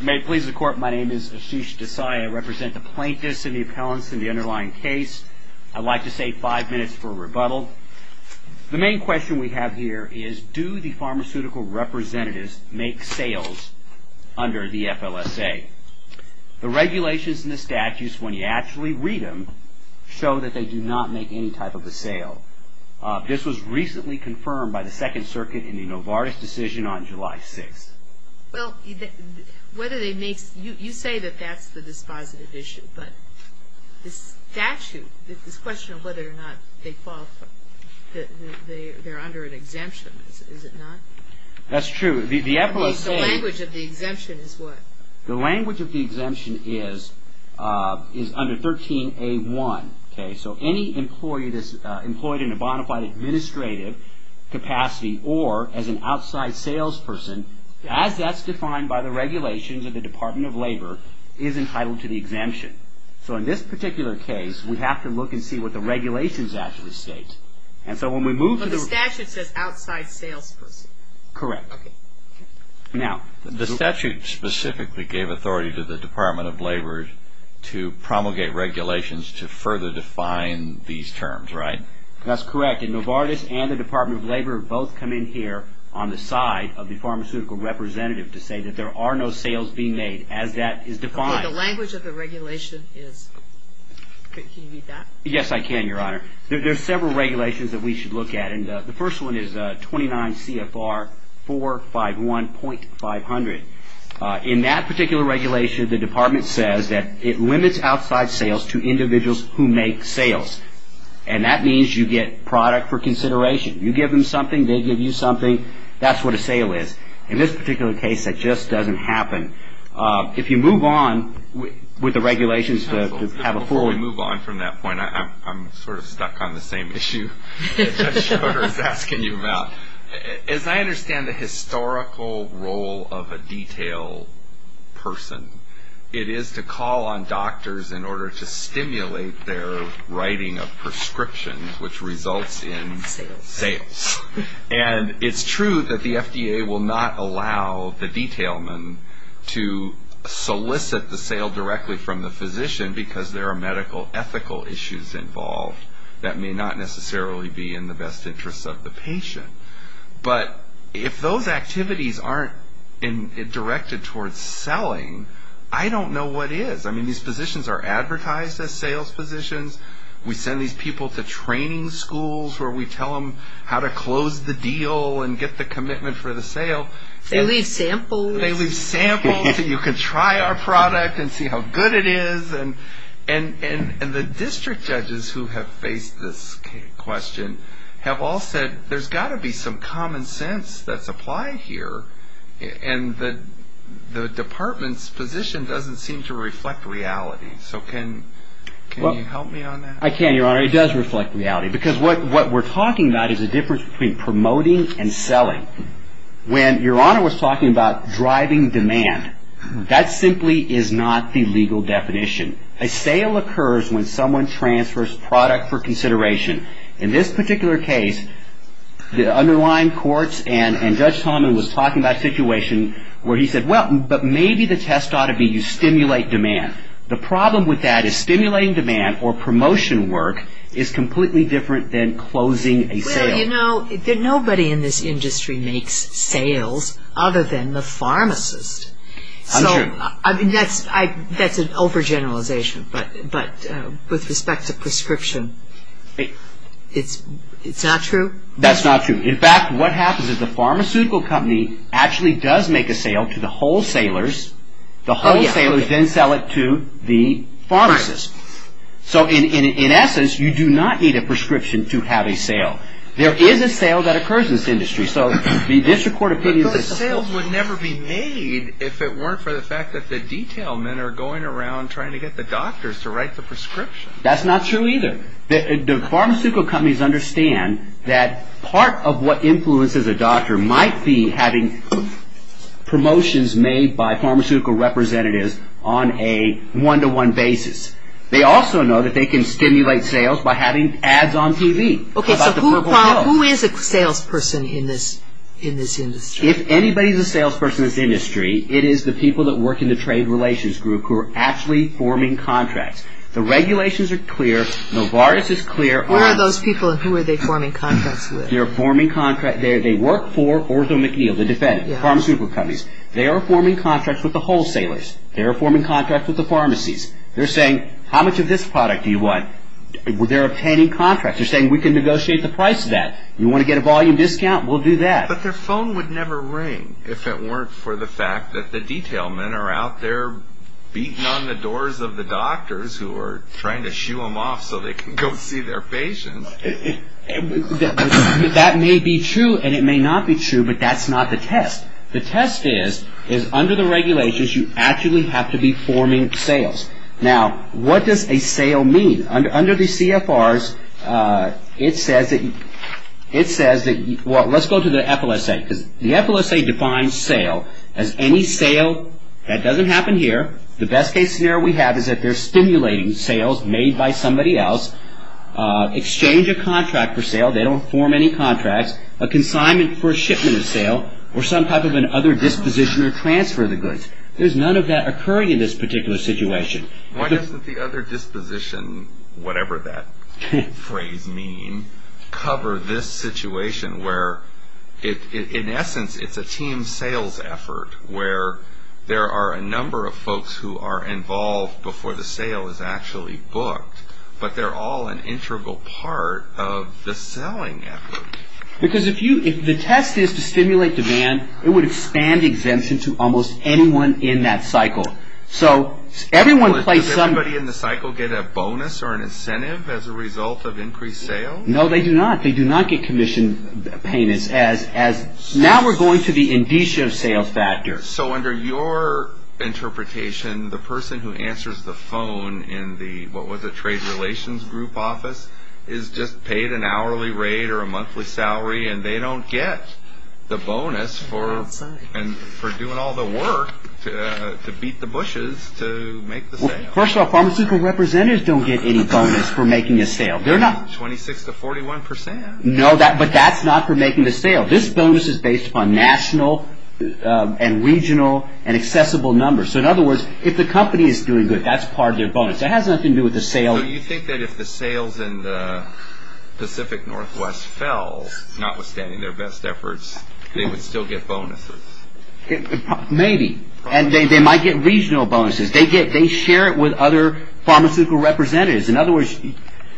May it please the court, my name is Ashish Desai. I represent the plaintiffs and the appellants in the underlying case. I'd like to say five minutes for a rebuttal. The main question we have here is, do the pharmaceutical representatives make sales under the FLSA? The regulations in the statutes, when you actually read them, show that they do not make any type of a sale. This was recently confirmed by the whether they make, you say that that's the dispositive issue, but this statute, this question of whether or not they qualify, that they're under an exemption, is it not? That's true. The FLSA, the language of the exemption is what? The language of the exemption is, is under 13A1, okay, so any employee that's employed in a bona fide administrative capacity or as an outside salesperson, as that's defined by the regulations of the Department of Labor, is entitled to the exemption. So in this particular case, we have to look and see what the regulations actually state, and so when we move to the... But the statute says outside salesperson. Correct. Okay. Now... The statute specifically gave authority to the Department of Labor to promulgate regulations to further define these terms, right? That's correct, and Novartis and the Department of Labor both come in here on the side of the pharmaceutical representative to say that there are no sales being made, as that is defined. Okay, the language of the regulation is... Can you read that? Yes, I can, Your Honor. There's several regulations that we should look at, and the first one is 29 CFR 451.500. In that particular regulation, the department says that it limits outside sales to individuals who make sales, and that means you get product for consideration. You give them something, they give you something, that's what a sale is. In this particular case, that just doesn't happen. If you move on with the regulations to have a full... Before we move on from that point, I'm sort of stuck on the same issue that Judge Schroeder is asking you about. As I understand the historical role of a detail person, it is to call on doctors in order to stimulate their writing of prescriptions, which results in... Sales. Sales. It's true that the FDA will not allow the detailman to solicit the sale directly from the physician, because there are medical ethical issues involved that may not necessarily be in the best interests of the patient. But, if those activities aren't directed towards selling, I don't know what is. I mean, these physicians are advertised as sales physicians, we send these people to training schools, where we tell them how to collect data, and we don't really do anything about it. We close the deal and get the commitment for the sale, they leave samples, and you can try our product and see how good it is, and the district judges who have faced this question have all said, there's got to be some common sense that's applied here, and the department's position doesn't seem to reflect reality. So, can you help me on that? I can, Your Honor. It does reflect reality, because what we're talking about is the difference between promoting and selling. When Your Honor was talking about driving demand, that simply is not the legal definition. A sale occurs when someone transfers product for consideration. In this particular case, the underlying courts and Judge Tomlin was talking about a situation where he said, well, but maybe the test ought to be you stimulate demand. The problem with that is stimulating demand, or promotion work, is completely different than closing a sale. Well, you know, nobody in this industry makes sales other than the pharmacist. I'm sure. So, I mean, that's an overgeneralization, but with respect to prescription, it's not true? That's not true. In fact, what happens is the pharmaceutical company actually does make a sale to the wholesalers. The wholesalers then sell it to the pharmacist. So, in essence, you do not need a prescription to have a sale. There is a sale that occurs in this industry. So, the district court opinion is a whole. But those sales would never be made if it weren't for the fact that the detail men are going around trying to get the doctors to write the prescription. That's not true either. The pharmaceutical companies understand that part of what influences a doctor might be having promotions made by pharmaceutical representatives on a one-to-one basis. They also know that they can stimulate sales by having ads on TV. Okay, so who is a salesperson in this industry? If anybody is a salesperson in this industry, it is the people that work in the trade relations group who are actually forming contracts. The regulations are clear. Novartis is clear. Who are those people and who are they forming contracts with? They work for OrthoMcNeil, the pharmaceutical companies. They are forming contracts with the wholesalers. They are forming contracts with the pharmacies. They're saying, how much of this product do you want? They're obtaining contracts. They're saying, we can negotiate the price of that. You want to get a volume discount? We'll do that. But their phone would never ring if it weren't for the fact that the detail men are out there beating on the doors of the doctors who are trying to shoo them off so they can go see their patients. That may be true and it may not be true, but that's not the test. The test is, under the regulations, you actually have to be forming sales. Now, what does a sale mean? Under the CFRs, it says that, well, let's go to the FLSA. The FLSA defines sale as any sale that doesn't happen here. The best case scenario we have is that they're stimulating sales made by somebody else, exchange a contract for sale. They don't form any contracts. A consignment for a shipment of sale or some type of an other disposition or transfer of the goods. There's none of that occurring in this particular situation. Why doesn't the other disposition, whatever that phrase means, cover this situation? Where, in essence, it's a team sales effort where there are a number of folks who are involved before the sale is actually booked. But they're all an integral part of the selling effort. Because if the test is to stimulate demand, it would expand exemption to almost anyone in that cycle. Does everybody in the cycle get a bonus or an incentive as a result of increased sales? No, they do not. They do not get commission payments. Now we're going to the indicia of sales factors. So, under your interpretation, the person who answers the phone in the, what was it, trade relations group office, is just paid an hourly rate or a monthly salary and they don't get the bonus for doing all the work to beat the bushes to make the sale. First of all, pharmaceutical representatives don't get any bonus for making a sale. 26 to 41 percent. No, but that's not for making the sale. This bonus is based upon national and regional and accessible numbers. So, in other words, if the company is doing good, that's part of their bonus. It has nothing to do with the sale. So, you think that if the sales in the Pacific Northwest fell, notwithstanding their best efforts, they would still get bonuses? Maybe. And they might get regional bonuses. They share it with other pharmaceutical representatives.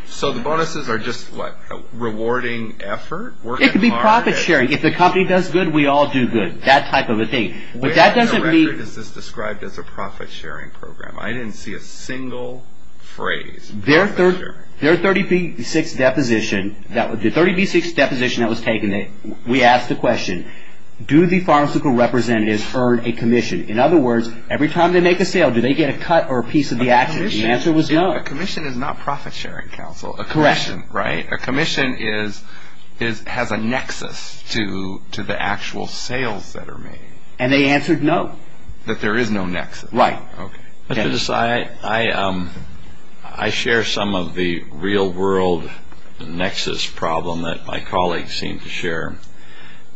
So, the bonuses are just a rewarding effort? It could be profit sharing. If the company does good, we all do good. That type of a thing. Where in the record is this described as a profit sharing program? I didn't see a single phrase. Their 30B6 deposition that was taken, we asked the question, do the pharmaceutical representatives earn a commission? In other words, every time they make a sale, do they get a cut or a piece of the action? The answer was no. A commission is not profit sharing counsel. Correct. A commission has a nexus to the actual sales that are made. And they answered no. That there is no nexus. Right. Okay. I share some of the real world nexus problem that my colleagues seem to share.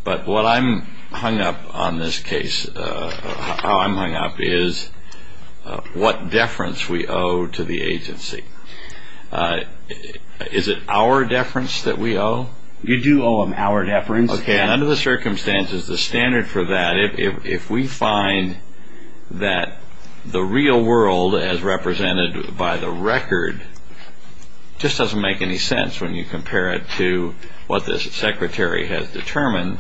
But what I'm hung up on this case, how I'm hung up, is what deference we owe to the agency. Is it our deference that we owe? You do owe them our deference. Okay. Under the circumstances, the standard for that, if we find that the real world, as represented by the record, just doesn't make any sense when you compare it to what the secretary has determined,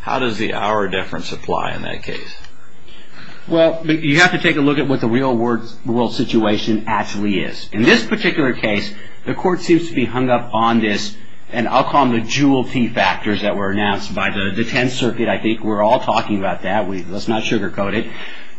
how does the our deference apply in that case? Well, you have to take a look at what the real world situation actually is. In this particular case, the court seems to be hung up on this, and I'll call them the jewel key factors that were announced by the 10th Circuit. I think we're all talking about that. Let's not sugar coat it.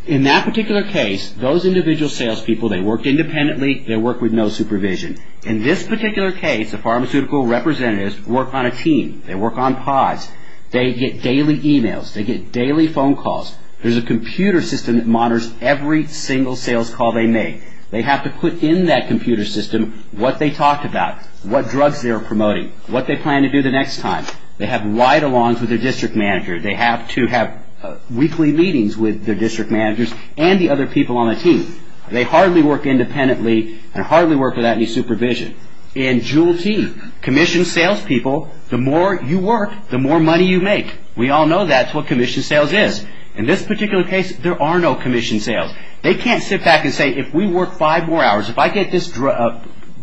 In that particular case, those individual salespeople, they worked independently. They worked with no supervision. In this particular case, the pharmaceutical representatives work on a team. They work on pods. They get daily emails. They get daily phone calls. There's a computer system that monitors every single sales call they make. They have to put in that computer system what they talked about, what drugs they're promoting, what they plan to do the next time. They have ride-alongs with their district manager. They have to have weekly meetings with their district managers and the other people on the team. They hardly work independently and hardly work without any supervision. In jewel key, commission salespeople, the more you work, the more money you make. We all know that's what commission sales is. In this particular case, there are no commission sales. They can't sit back and say, if we work five more hours, if I get this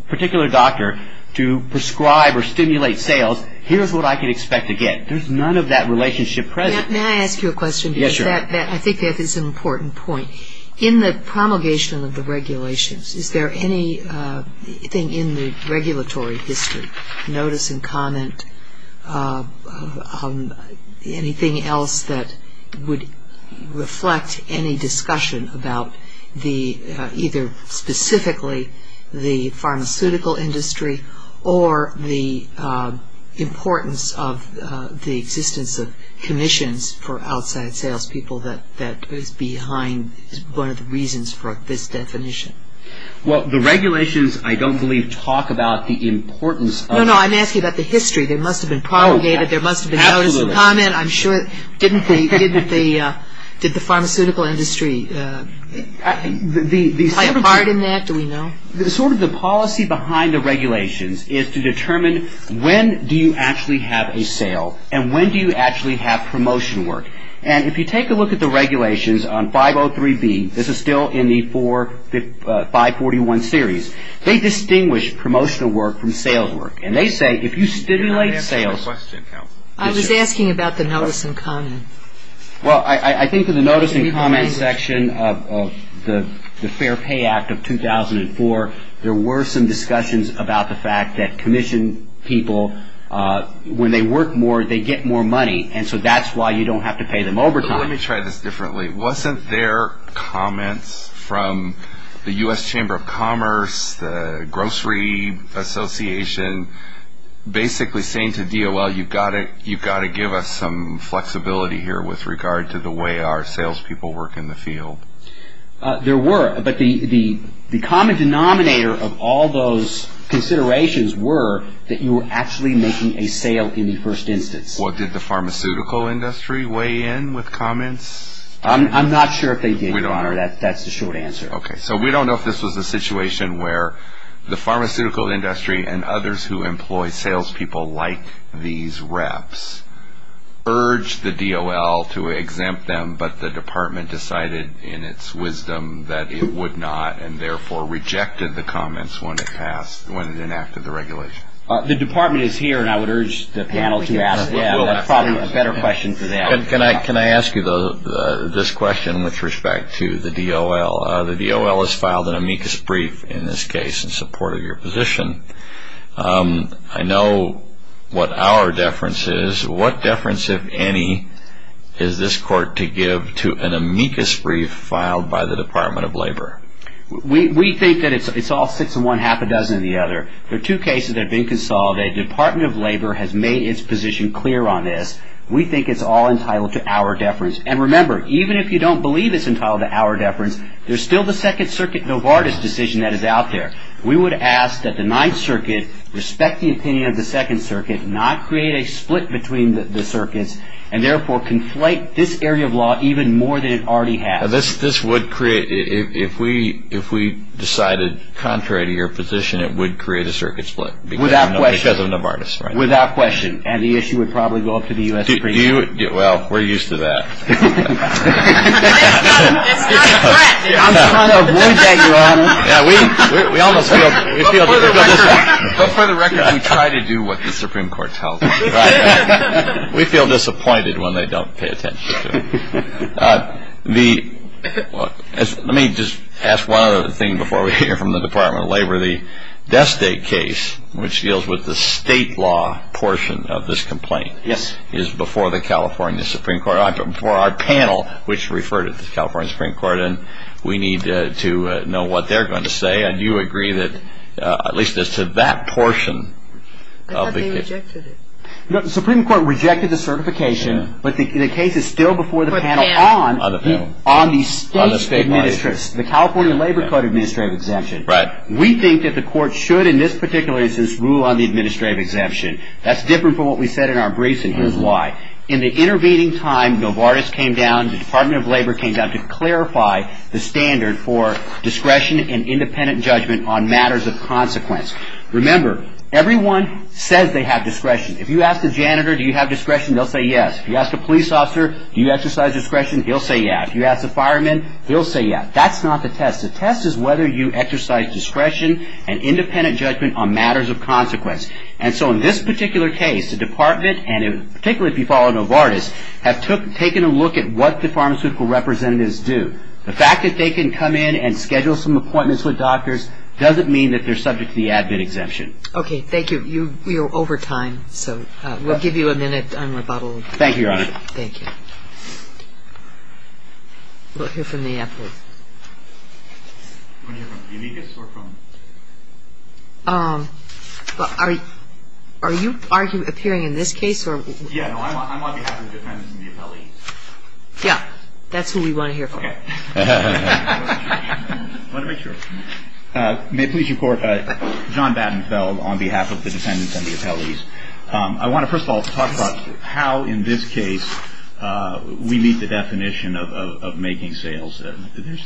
particular doctor to prescribe or stimulate sales, here's what I can expect to get. There's none of that relationship present. May I ask you a question? Yes, sure. I think that is an important point. In the promulgation of the regulations, is there anything in the regulatory history, notice and comment, anything else that would reflect any discussion about either specifically the pharmaceutical industry or the importance of the existence of commissions for outside salespeople that is behind one of the reasons for this definition? Well, the regulations, I don't believe, talk about the importance. No, no. I'm asking about the history. There must have been promulgated. There must have been notice and comment. I'm sure. Didn't the pharmaceutical industry play a part in that? Do we know? Sort of the policy behind the regulations is to determine when do you actually have a sale and when do you actually have promotion work. And if you take a look at the regulations on 503B, this is still in the 541 series, they distinguish promotional work from sales work. And they say if you stimulate sales... May I ask you a question, counsel? I was asking about the notice and comment. Well, I think in the notice and comment section of the Fair Pay Act of 2004, there were some discussions about the fact that commission people, when they work more, they get more money. And so that's why you don't have to pay them overtime. Let me try this differently. Wasn't there comments from the U.S. Chamber of Commerce, the Grocery Association, basically saying to DOL, you've got to give us some flexibility here with regard to the way our salespeople work in the field? There were. But the common denominator of all those considerations were that you were actually making a sale in the first instance. Well, did the pharmaceutical industry weigh in with comments? I'm not sure if they did, Your Honor. That's the short answer. Okay. So we don't know if this was a situation where the pharmaceutical industry and others who employ salespeople like these reps urged the DOL to exempt them, but the department decided in its wisdom that it would not, and therefore rejected the comments when it passed, when it enacted the regulation. The department is here, and I would urge the panel to ask them. That's probably a better question for them. Can I ask you this question with respect to the DOL? The DOL has filed an amicus brief in this case in support of your position. I know what our deference is. What deference, if any, is this court to give to an amicus brief filed by the Department of Labor? We think that it's all six in one, half a dozen in the other. There are two cases that have been consolidated. The Department of Labor has made its position clear on this. We think it's all entitled to our deference. And remember, even if you don't believe it's entitled to our deference, there's still the Second Circuit Novartis decision that is out there. We would ask that the Ninth Circuit respect the opinion of the Second Circuit, not create a split between the circuits, and therefore conflate this area of law even more than it already has. This would create, if we decided contrary to your position, it would create a circuit split. Without question. Because of Novartis. Without question. And the issue would probably go up to the U.S. Supreme Court. Well, we're used to that. It's not a threat. I'm trying to avoid that, Your Honor. We almost feel... But for the record, we try to do what the Supreme Court tells us. Right. We feel disappointed when they don't pay attention to it. Let me just ask one other thing before we hear from the Department of Labor. The death state case, which deals with the state law portion of this complaint, is before the California Supreme Court, before our panel, which referred it to the California Supreme Court, and we need to know what they're going to say. Do you agree that, at least as to that portion... I thought they rejected it. The Supreme Court rejected the certification, but the case is still before the panel on the state administration, the California Labor Code administrative exemption. We think that the court should, in this particular instance, rule on the administrative exemption. That's different from what we said in our briefs, and here's why. In the intervening time, Novartis came down, the Department of Labor came down to clarify the standard for discretion and independent judgment on matters of consequence. Remember, everyone says they have discretion. If you ask a janitor, do you have discretion, they'll say yes. If you ask a police officer, do you exercise discretion, he'll say yes. If you ask a fireman, he'll say yes. That's not the test. The test is whether you exercise discretion and independent judgment on matters of consequence. In this particular case, the Department, and particularly if you follow Novartis, have taken a look at what the pharmaceutical representatives do. The fact that they can come in and schedule some appointments with doctors doesn't mean that they're subject to the admin exemption. Okay, thank you. We are over time, so we'll give you a minute on rebuttal. Thank you, Your Honor. Thank you. We'll hear from the appellate. Are you appearing in this case? Yeah, I'm on behalf of the defense and the appellate. Yeah, that's who we want to hear from. Okay. I want to make sure. May it please your Court, John Battenfeld on behalf of the defendants and the appellees. I want to first of all talk about how in this case we meet the definition of making sales.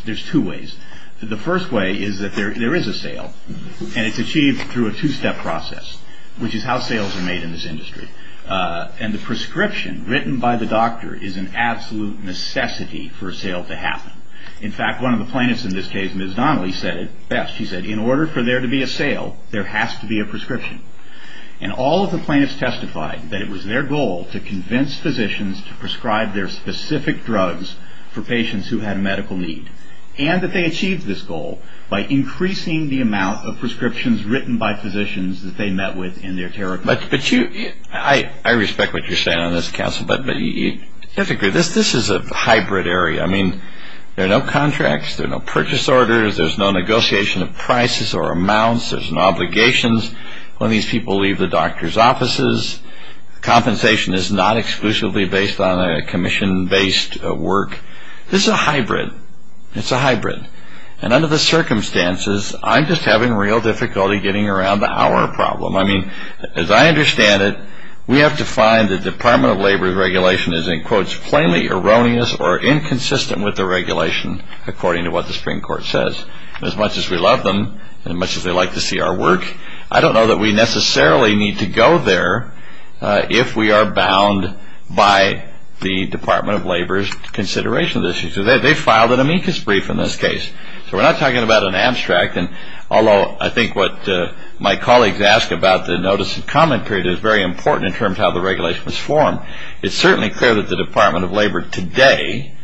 There's two ways. The first way is that there is a sale, and it's achieved through a two-step process, which is how sales are made in this industry. And the prescription written by the doctor is an absolute necessity for a sale to happen. In fact, one of the plaintiffs in this case, Ms. Donnelly, said it best. She said, in order for there to be a sale, there has to be a prescription. And all of the plaintiffs testified that it was their goal to convince physicians to prescribe their specific drugs for patients who had a medical need, and that they achieved this goal by increasing the amount of prescriptions written by physicians that they met with in their territory. But you... I respect what you're saying on this, counsel, but specifically, this is a hybrid area. I mean, there are no contracts. There are no purchase orders. There's no negotiation of prices or amounts. There's no obligations when these people leave the doctor's offices. Compensation is not exclusively based on a commission-based work. This is a hybrid. It's a hybrid. And under the circumstances, I'm just having real difficulty getting around our problem. I mean, as I understand it, we have to find the Department of Labor's regulation is, in quotes, plainly erroneous or inconsistent with the regulation, according to what the Supreme Court says. As much as we love them, and as much as they like to see our work, I don't know that we necessarily need to go there if we are bound by the Department of Labor's consideration of this issue. They filed an amicus brief in this case. So we're not talking about an abstract, although I think what my colleagues ask about the notice of comment period is very important in terms of how the regulation was formed. It's certainly clear that the Department of Labor today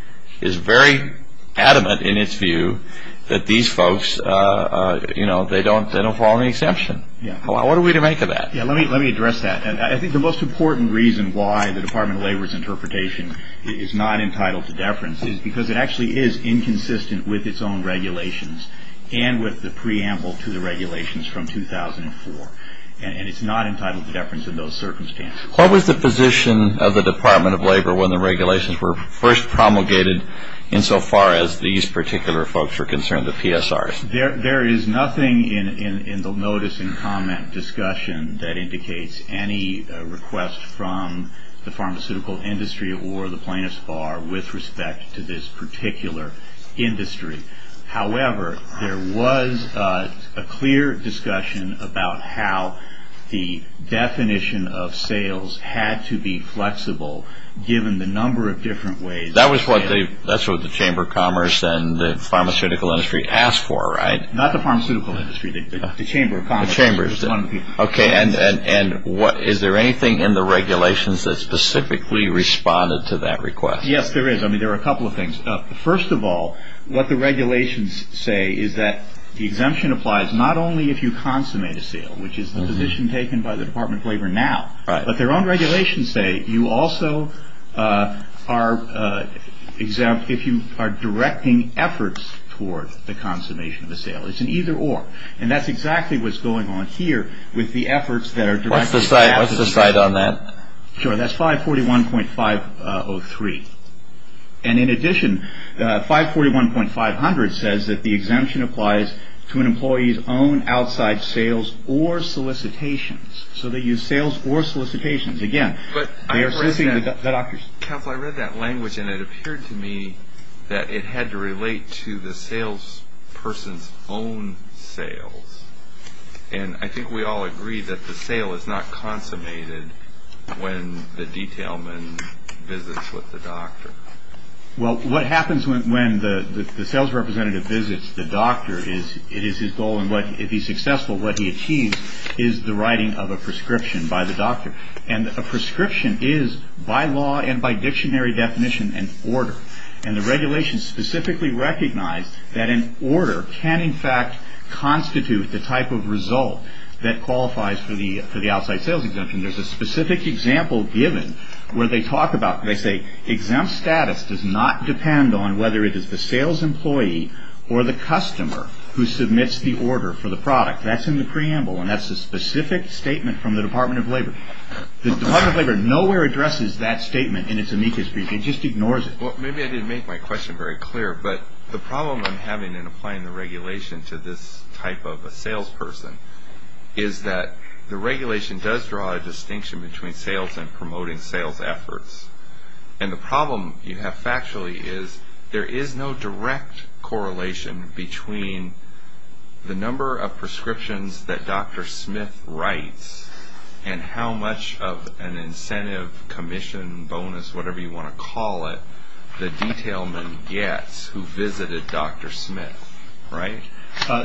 is very adamant in its view that these folks, you know, they don't follow any exemption. What are we to make of that? Yeah, let me address that. I think the most important reason why the Department of Labor's interpretation is not entitled to deference is because it actually is inconsistent with its own regulations and with the preamble to the regulations from 2004. And it's not entitled to deference in those circumstances. What was the position of the Department of Labor when the regulations were first promulgated insofar as these particular folks were concerned, the PSRs? There is nothing in the notice and comment discussion that indicates any request from the pharmaceutical industry or the plaintiff's bar with respect to this particular industry. However, there was a clear discussion about how the definition of sales had to be flexible given the number of different ways... That's what the Chamber of Commerce and the pharmaceutical industry asked for, right? Not the pharmaceutical industry, the Chamber of Commerce. Okay, and is there anything in the regulations that specifically responded to that request? Yes, there is. I mean, there are a couple of things. First of all, what the regulations say is that the exemption applies not only if you consummate a sale, which is the position taken by the Department of Labor now, but their own regulations say you also are exempt if you are directing efforts toward the consummation of a sale. It's an either-or. And that's exactly what's going on here with the efforts that are directed... What's the cite on that? Sure, that's 541.503. And in addition, 541.500 says that the exemption applies to an employee's own outside sales or solicitations. So they use sales or solicitations. Again, they are soliciting the doctor's... Counselor, I read that language and it appeared to me that it had to relate to the salesperson's own sales. And I think we all agree that the sale is not consummated when the detailman visits with the doctor. Well, what happens when the sales representative visits the doctor is it is his goal, and if he's successful, what he achieves is the writing of a prescription by the doctor. And a prescription is, by law and by dictionary definition, an order. And the regulations specifically recognize that an order can in fact constitute the type of result that qualifies for the outside sales exemption. There's a specific example given where they talk about... They say exempt status does not depend on whether it is the sales employee or the customer who submits the order for the product. That's in the preamble and that's a specific statement from the Department of Labor. The Department of Labor nowhere addresses that statement in its amicus brief. It just ignores it. Well, maybe I didn't make my question very clear, but the problem I'm having in applying the regulation to this type of a salesperson is that the regulation does draw a distinction between sales and promoting sales efforts. And the problem you have factually is there is no direct correlation between the number of prescriptions that Dr. Smith writes and how much of an incentive, commission, bonus, whatever you want to call it the detailman gets who visited Dr. Smith, right?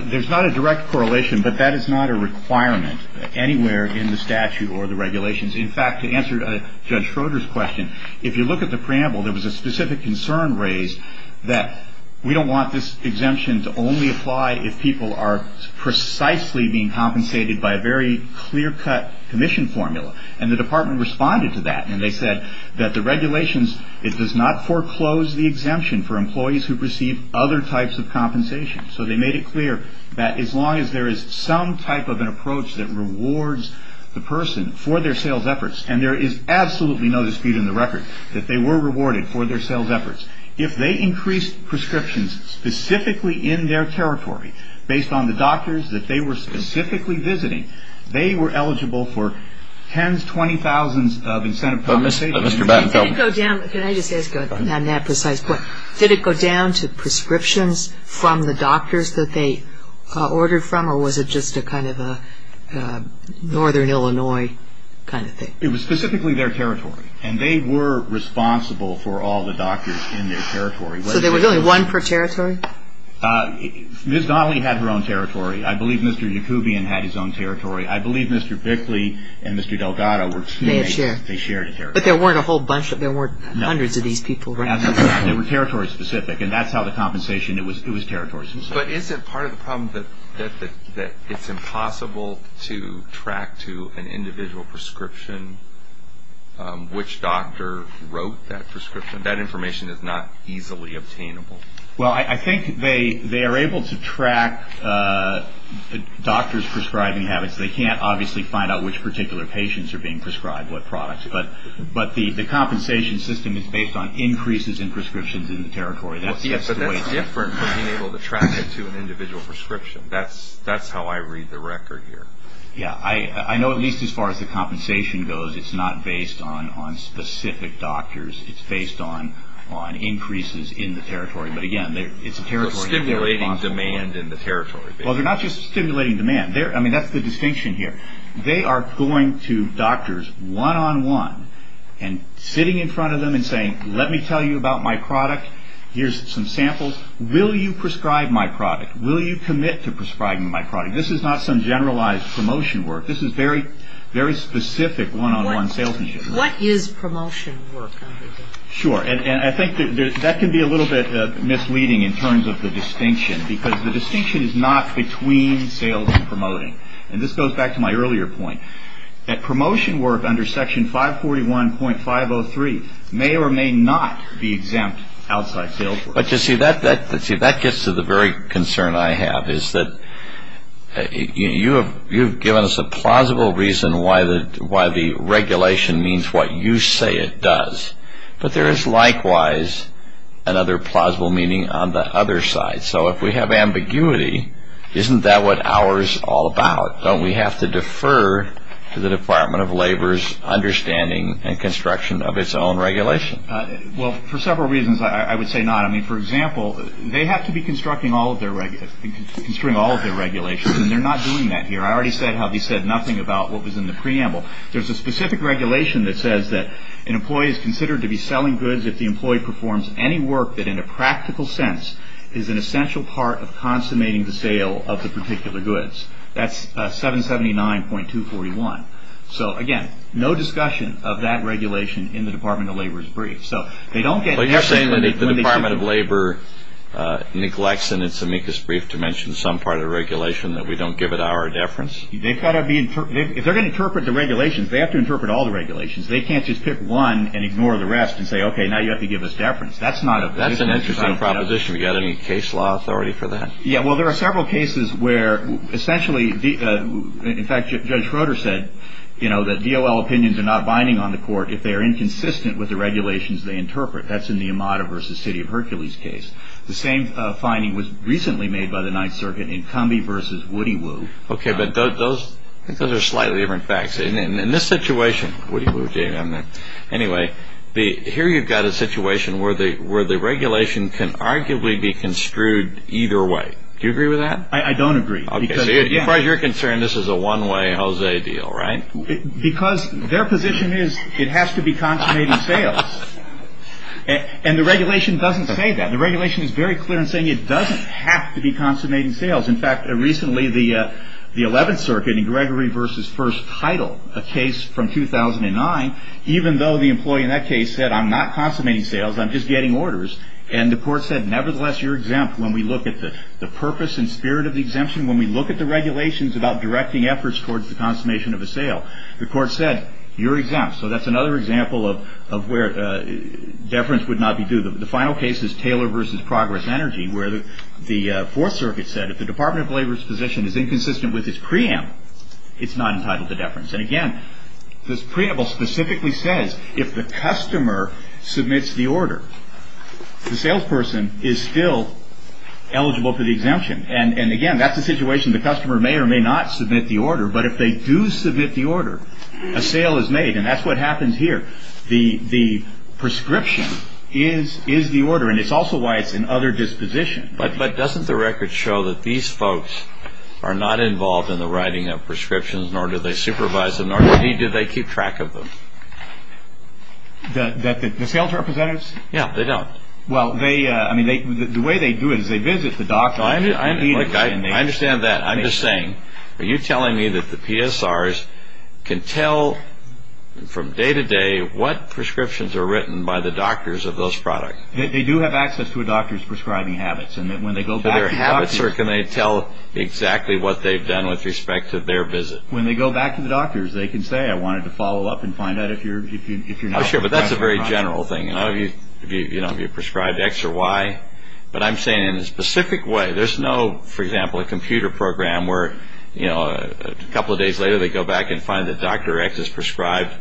There's not a direct correlation, but that is not a requirement anywhere in the statute or the regulations. In fact, to answer Judge Schroeder's question, if you look at the preamble, there was a specific concern raised that we don't want this exemption to only apply if people are precisely being compensated by a very clear-cut commission formula. And the department responded to that and they said that the regulations it does not foreclose the exemption for employees who receive other types of compensation. So they made it clear that as long as there is some type of an approach that rewards the person for their sales efforts and there is absolutely no dispute in the record that they were rewarded for their sales efforts. If they increased prescriptions specifically in their territory based on the doctors that they were specifically visiting they were eligible for tens, twenty thousands of incentive bonuses. Did it go down to prescriptions from the doctors that they ordered from or was it just a kind of a northern Illinois kind of thing? It was specifically their territory and they were responsible for all the doctors in their territory. So there was only one per territory? Ms. Donnelly had her own territory. I believe Mr. Yacoubian had his own territory. I believe Mr. Bickley and Mr. Delgado were teammates. They shared a territory. But there weren't a whole bunch, there weren't hundreds of these people. Absolutely not. They were territory specific and that's how the compensation, it was territory specific. But is it part of the problem that it's impossible to track to an individual prescription which doctor wrote that prescription? That information is not easily obtainable. I think they are able to track doctors prescribing habits. They can't obviously find out which particular patients are being prescribed what products. But the compensation system is based on increases in prescriptions in the territory. But that's different from being able to track it to an individual prescription. That's how I read the record here. I know at least as far as the compensation goes, it's not based on specific doctors. It's based on increases in the territory. Stimulating demand in the territory. They're not just stimulating demand. That's the distinction here. They are going to doctors one-on-one and sitting in front of them and saying, let me tell you about my product. Here's some samples. Will you prescribe my product? Will you commit to prescribing my product? This is not some generalized promotion work. This is very specific one-on-one salesmanship. What is promotion work? Sure. I think that can be a little bit misleading in terms of the distinction. Because the distinction is not between sales and promoting. This goes back to my earlier point. Promotion work under section 541.503 may or may not be exempt outside sales work. That gets to the very concern I have. You have given us a plausible reason why the regulation means what you say it does. But there is likewise another plausible meaning on the other side. If we have ambiguity isn't that what ours is all about? Don't we have to defer to the Department of Labor's understanding and construction of its own regulation? For several reasons I would say not. For example they have to be constructing all of their regulations and they are not doing that here. I already said nothing about what was in the preamble. There is a specific regulation that says that an employee is considered to be selling goods if the employee performs any work that in a practical sense is an essential part of consummating the sale of the particular goods. That is 779.241. So again, no discussion of that regulation in the Department of Labor's brief. You are saying that the Department of Labor neglects in its amicus brief to mention some part of the regulation that we don't give it our deference? If they are going to interpret the regulations they have to interpret all the regulations. They can't just pick one and ignore the rest and say, okay, now you have to give us deference. That's an interesting proposition. Do you have any case law authority for that? There are several cases where essentially in fact Judge Schroeder said that DOL opinions are not binding on the court if they are inconsistent with the regulations they interpret. That's in the Amada v. City of Hercules case. The same finding was recently made by the Ninth Circuit in Combie v. Woody Woo. Those are slightly different facts. In this situation Woody Woo. Here you've got a situation where the regulation can arguably be construed either way. Do you agree with that? I don't agree. As far as you're concerned, this is a one-way Jose deal, right? Because their position is it has to be consummating sales. And the regulation doesn't say that. The regulation is very clear in saying it doesn't have to be consummating sales. In fact, recently the Eleventh Circuit in Gregory v. Williams' first title, a case from 2009, even though the employee in that case said, I'm not consummating sales, I'm just getting orders. And the court said, nevertheless, you're exempt. When we look at the purpose and spirit of the exemption, when we look at the regulations about directing efforts towards the consummation of a sale, the court said, you're exempt. So that's another example of where deference would not be due. The final case is Taylor v. Progress Energy where the Fourth Circuit said if the Department of Labor's position is inconsistent with its preamble, it's not entitled to deference. And again, this preamble specifically says if the customer submits the order, the salesperson is still eligible for the exemption. And again, that's the situation. The customer may or may not submit the order. But if they do submit the order, a sale is made. And that's what happens here. The prescription is the order. And it's also why it's in other dispositions. But doesn't the record show that these folks are not involved in the writing of prescriptions nor do they supervise them, nor indeed do they keep track of them? The sales representatives? Yeah, they don't. The way they do it is they visit the doctor. I understand that. I'm just saying, are you telling me that the PSRs can tell from day to day what prescriptions are written by the doctors of those products? They do have access to a doctor's prescription. Can they tell exactly what they've done with respect to their visit? When they go back to the doctors, they can say, I wanted to follow up and find out if you're not sure. Oh sure, but that's a very general thing. Have you prescribed X or Y? But I'm saying in a specific way. There's no, for example, a computer program where a couple of days later they go back and find that Dr. X has prescribed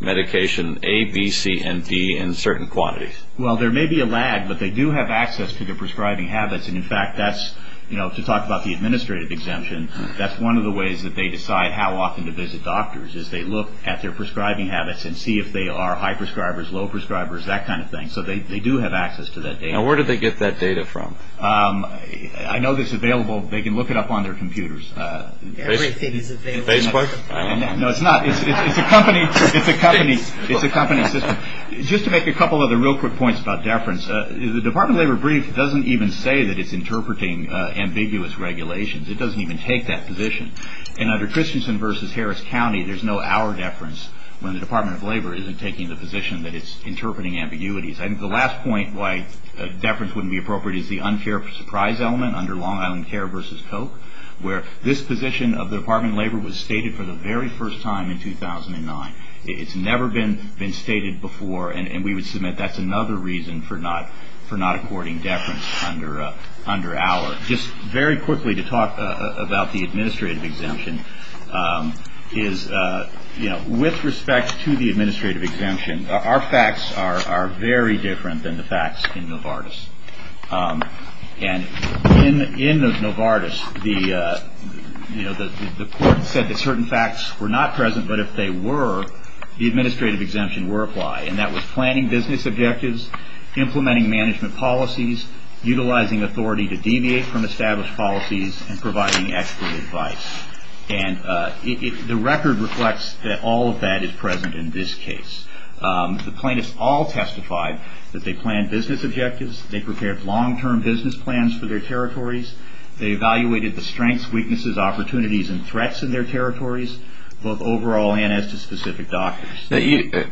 medication A, B, C, and D in certain quantities. Well, there may be a lag, but they do have access to their prescribing habits, and in fact that's, you know, to talk about the administrative exemption, that's one of the ways that they decide how often to visit doctors is they look at their prescribing habits and see if they are high prescribers, low prescribers, that kind of thing. So they do have access to that data. Now where do they get that data from? I know it's available. They can look it up on their computers. Facebook? No, it's not. It's a company system. Just to make a couple other real quick points about deference, the Department of Labor brief doesn't even say that it's interpreting ambiguous regulations. It doesn't even take that position. And under Christensen v. Harris County, there's no hour deference when the Department of Labor isn't taking the position that it's interpreting ambiguities. I think the last point why deference wouldn't be appropriate is the unfair surprise element under Long Island Care v. Koch, where this position of the Department of Labor was stated for the very first time in 2009. It's never been stated before and we would submit that's another reason for not according deference under our. Just very quickly to talk about the administrative exemption is with respect to the administrative exemption, our facts are very different than the facts in Novartis. And in Novartis, the court said that certain facts were not present, but if they were the administrative exemption would apply. And that was planning business objectives, implementing management policies, utilizing authority to deviate from established policies, and providing expert advice. The record reflects that all of that is present in this case. The plaintiffs all testified that they planned business objectives, they prepared long-term business plans for their territories, they evaluated the strengths, weaknesses, opportunities and threats in their territories, both overall and as to specific documents.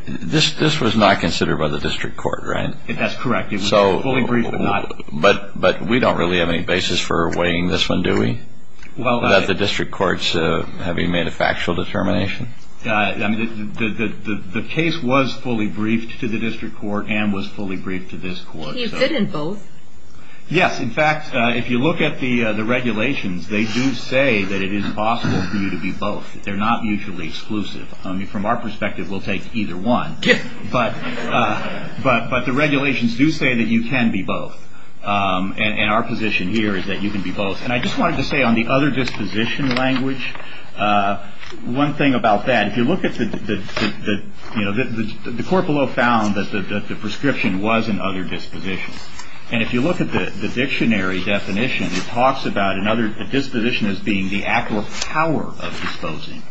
This was not considered by the district court, right? That's correct. It was fully briefed, but not. But we don't really have any basis for weighing this one, do we? That the district courts have made a factual determination? The case was fully briefed to the district court and was fully briefed to this court. It did in both. Yes, in fact, if you look at the regulations, they do say that it is possible for you to be both. They're not mutually exclusive. From our perspective, we'll take either one. But the regulations do say that you can be both. And our position here is that you can be both. And I just wanted to say on the other disposition language, one thing about that, if you look at the court below found that the prescription was an other disposition. And if you look at the dictionary definition, it talks about another disposition as being the actual power of disposing.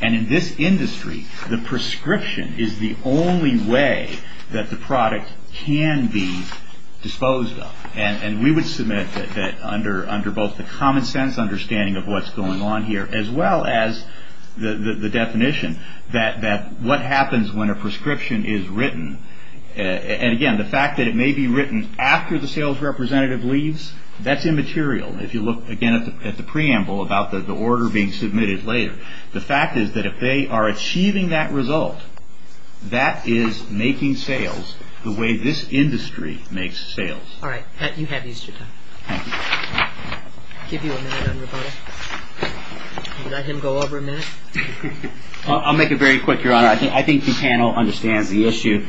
And in this industry, the prescription is the only way that the product can be disposed of. And we would submit that under both the common sense understanding of what's going on here, as well as that what happens when a prescription is written, and again, the fact that it may be written after the sales representative leaves, that's immaterial. If you look again at the preamble about the order being submitted later, the fact is that if they are achieving that result, that is making sales the way this industry makes sales. Alright, Pat, you have Easter time. I'll give you a minute on your part. I'll let him go over a minute. I'll make it very quick, Your Honor. I think the panel understands the issue.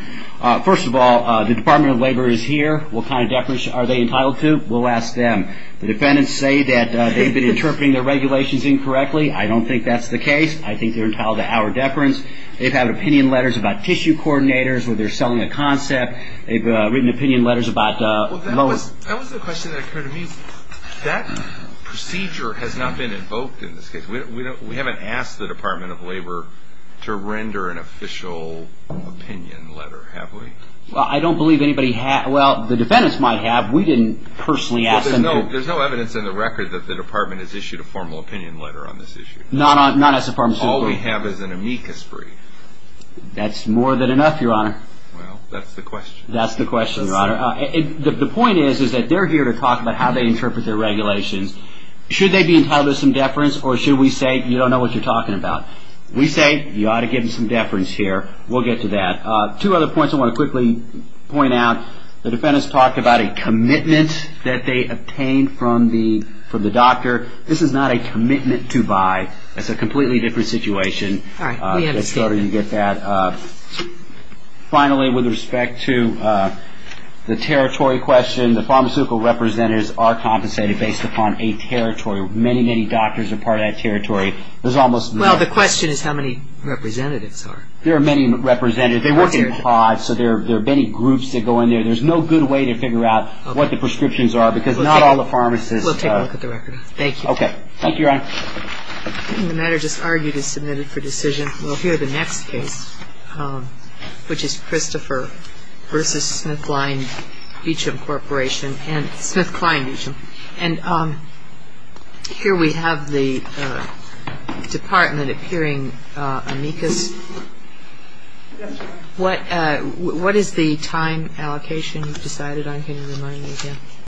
First of all, the Department of Labor is here. What kind of deference are they entitled to? We'll ask them. The defendants say that they've been interpreting their regulations incorrectly. I don't think that's the case. I think they're entitled to our deference. They've had opinion letters about tissue coordinators where they're selling a concept. They've written opinion letters about That was the question that occurred to me. That procedure has not been invoked in this case. We haven't asked the Department of Labor to render an official opinion letter, have we? I don't believe anybody has. The defendants might have. There's no evidence in the record that the Department has issued a formal opinion letter on this issue. All we have is an amicus brief. That's more than enough, Your Honor. That's the question. The point is that they're here to talk about how they interpret their regulations. Should they be entitled to some deference, or should we say, you don't know what you're talking about. We say, you ought to give them some deference here. We'll get to that. Two other points I want to quickly point out. The defendants talked about a commitment that they obtained from the doctor. This is not a commitment to buy. It's a completely different situation. Finally, with respect to the territory question, the pharmaceutical representatives are compensated based upon a territory. Many, many doctors are part of that territory. Well, the question is how many representatives are. There are many representatives. There are many groups that go in there. There's no good way to figure out what the prescriptions are, because not all the pharmacists We'll take a look at the record. Thank you, Your Honor. The matter just argued is submitted for decision. We'll hear the next case, which is Christopher v. SmithKline Beecham Corporation. Here we have the department appearing amicus. What is the time allocation decided on? Can you remind me again?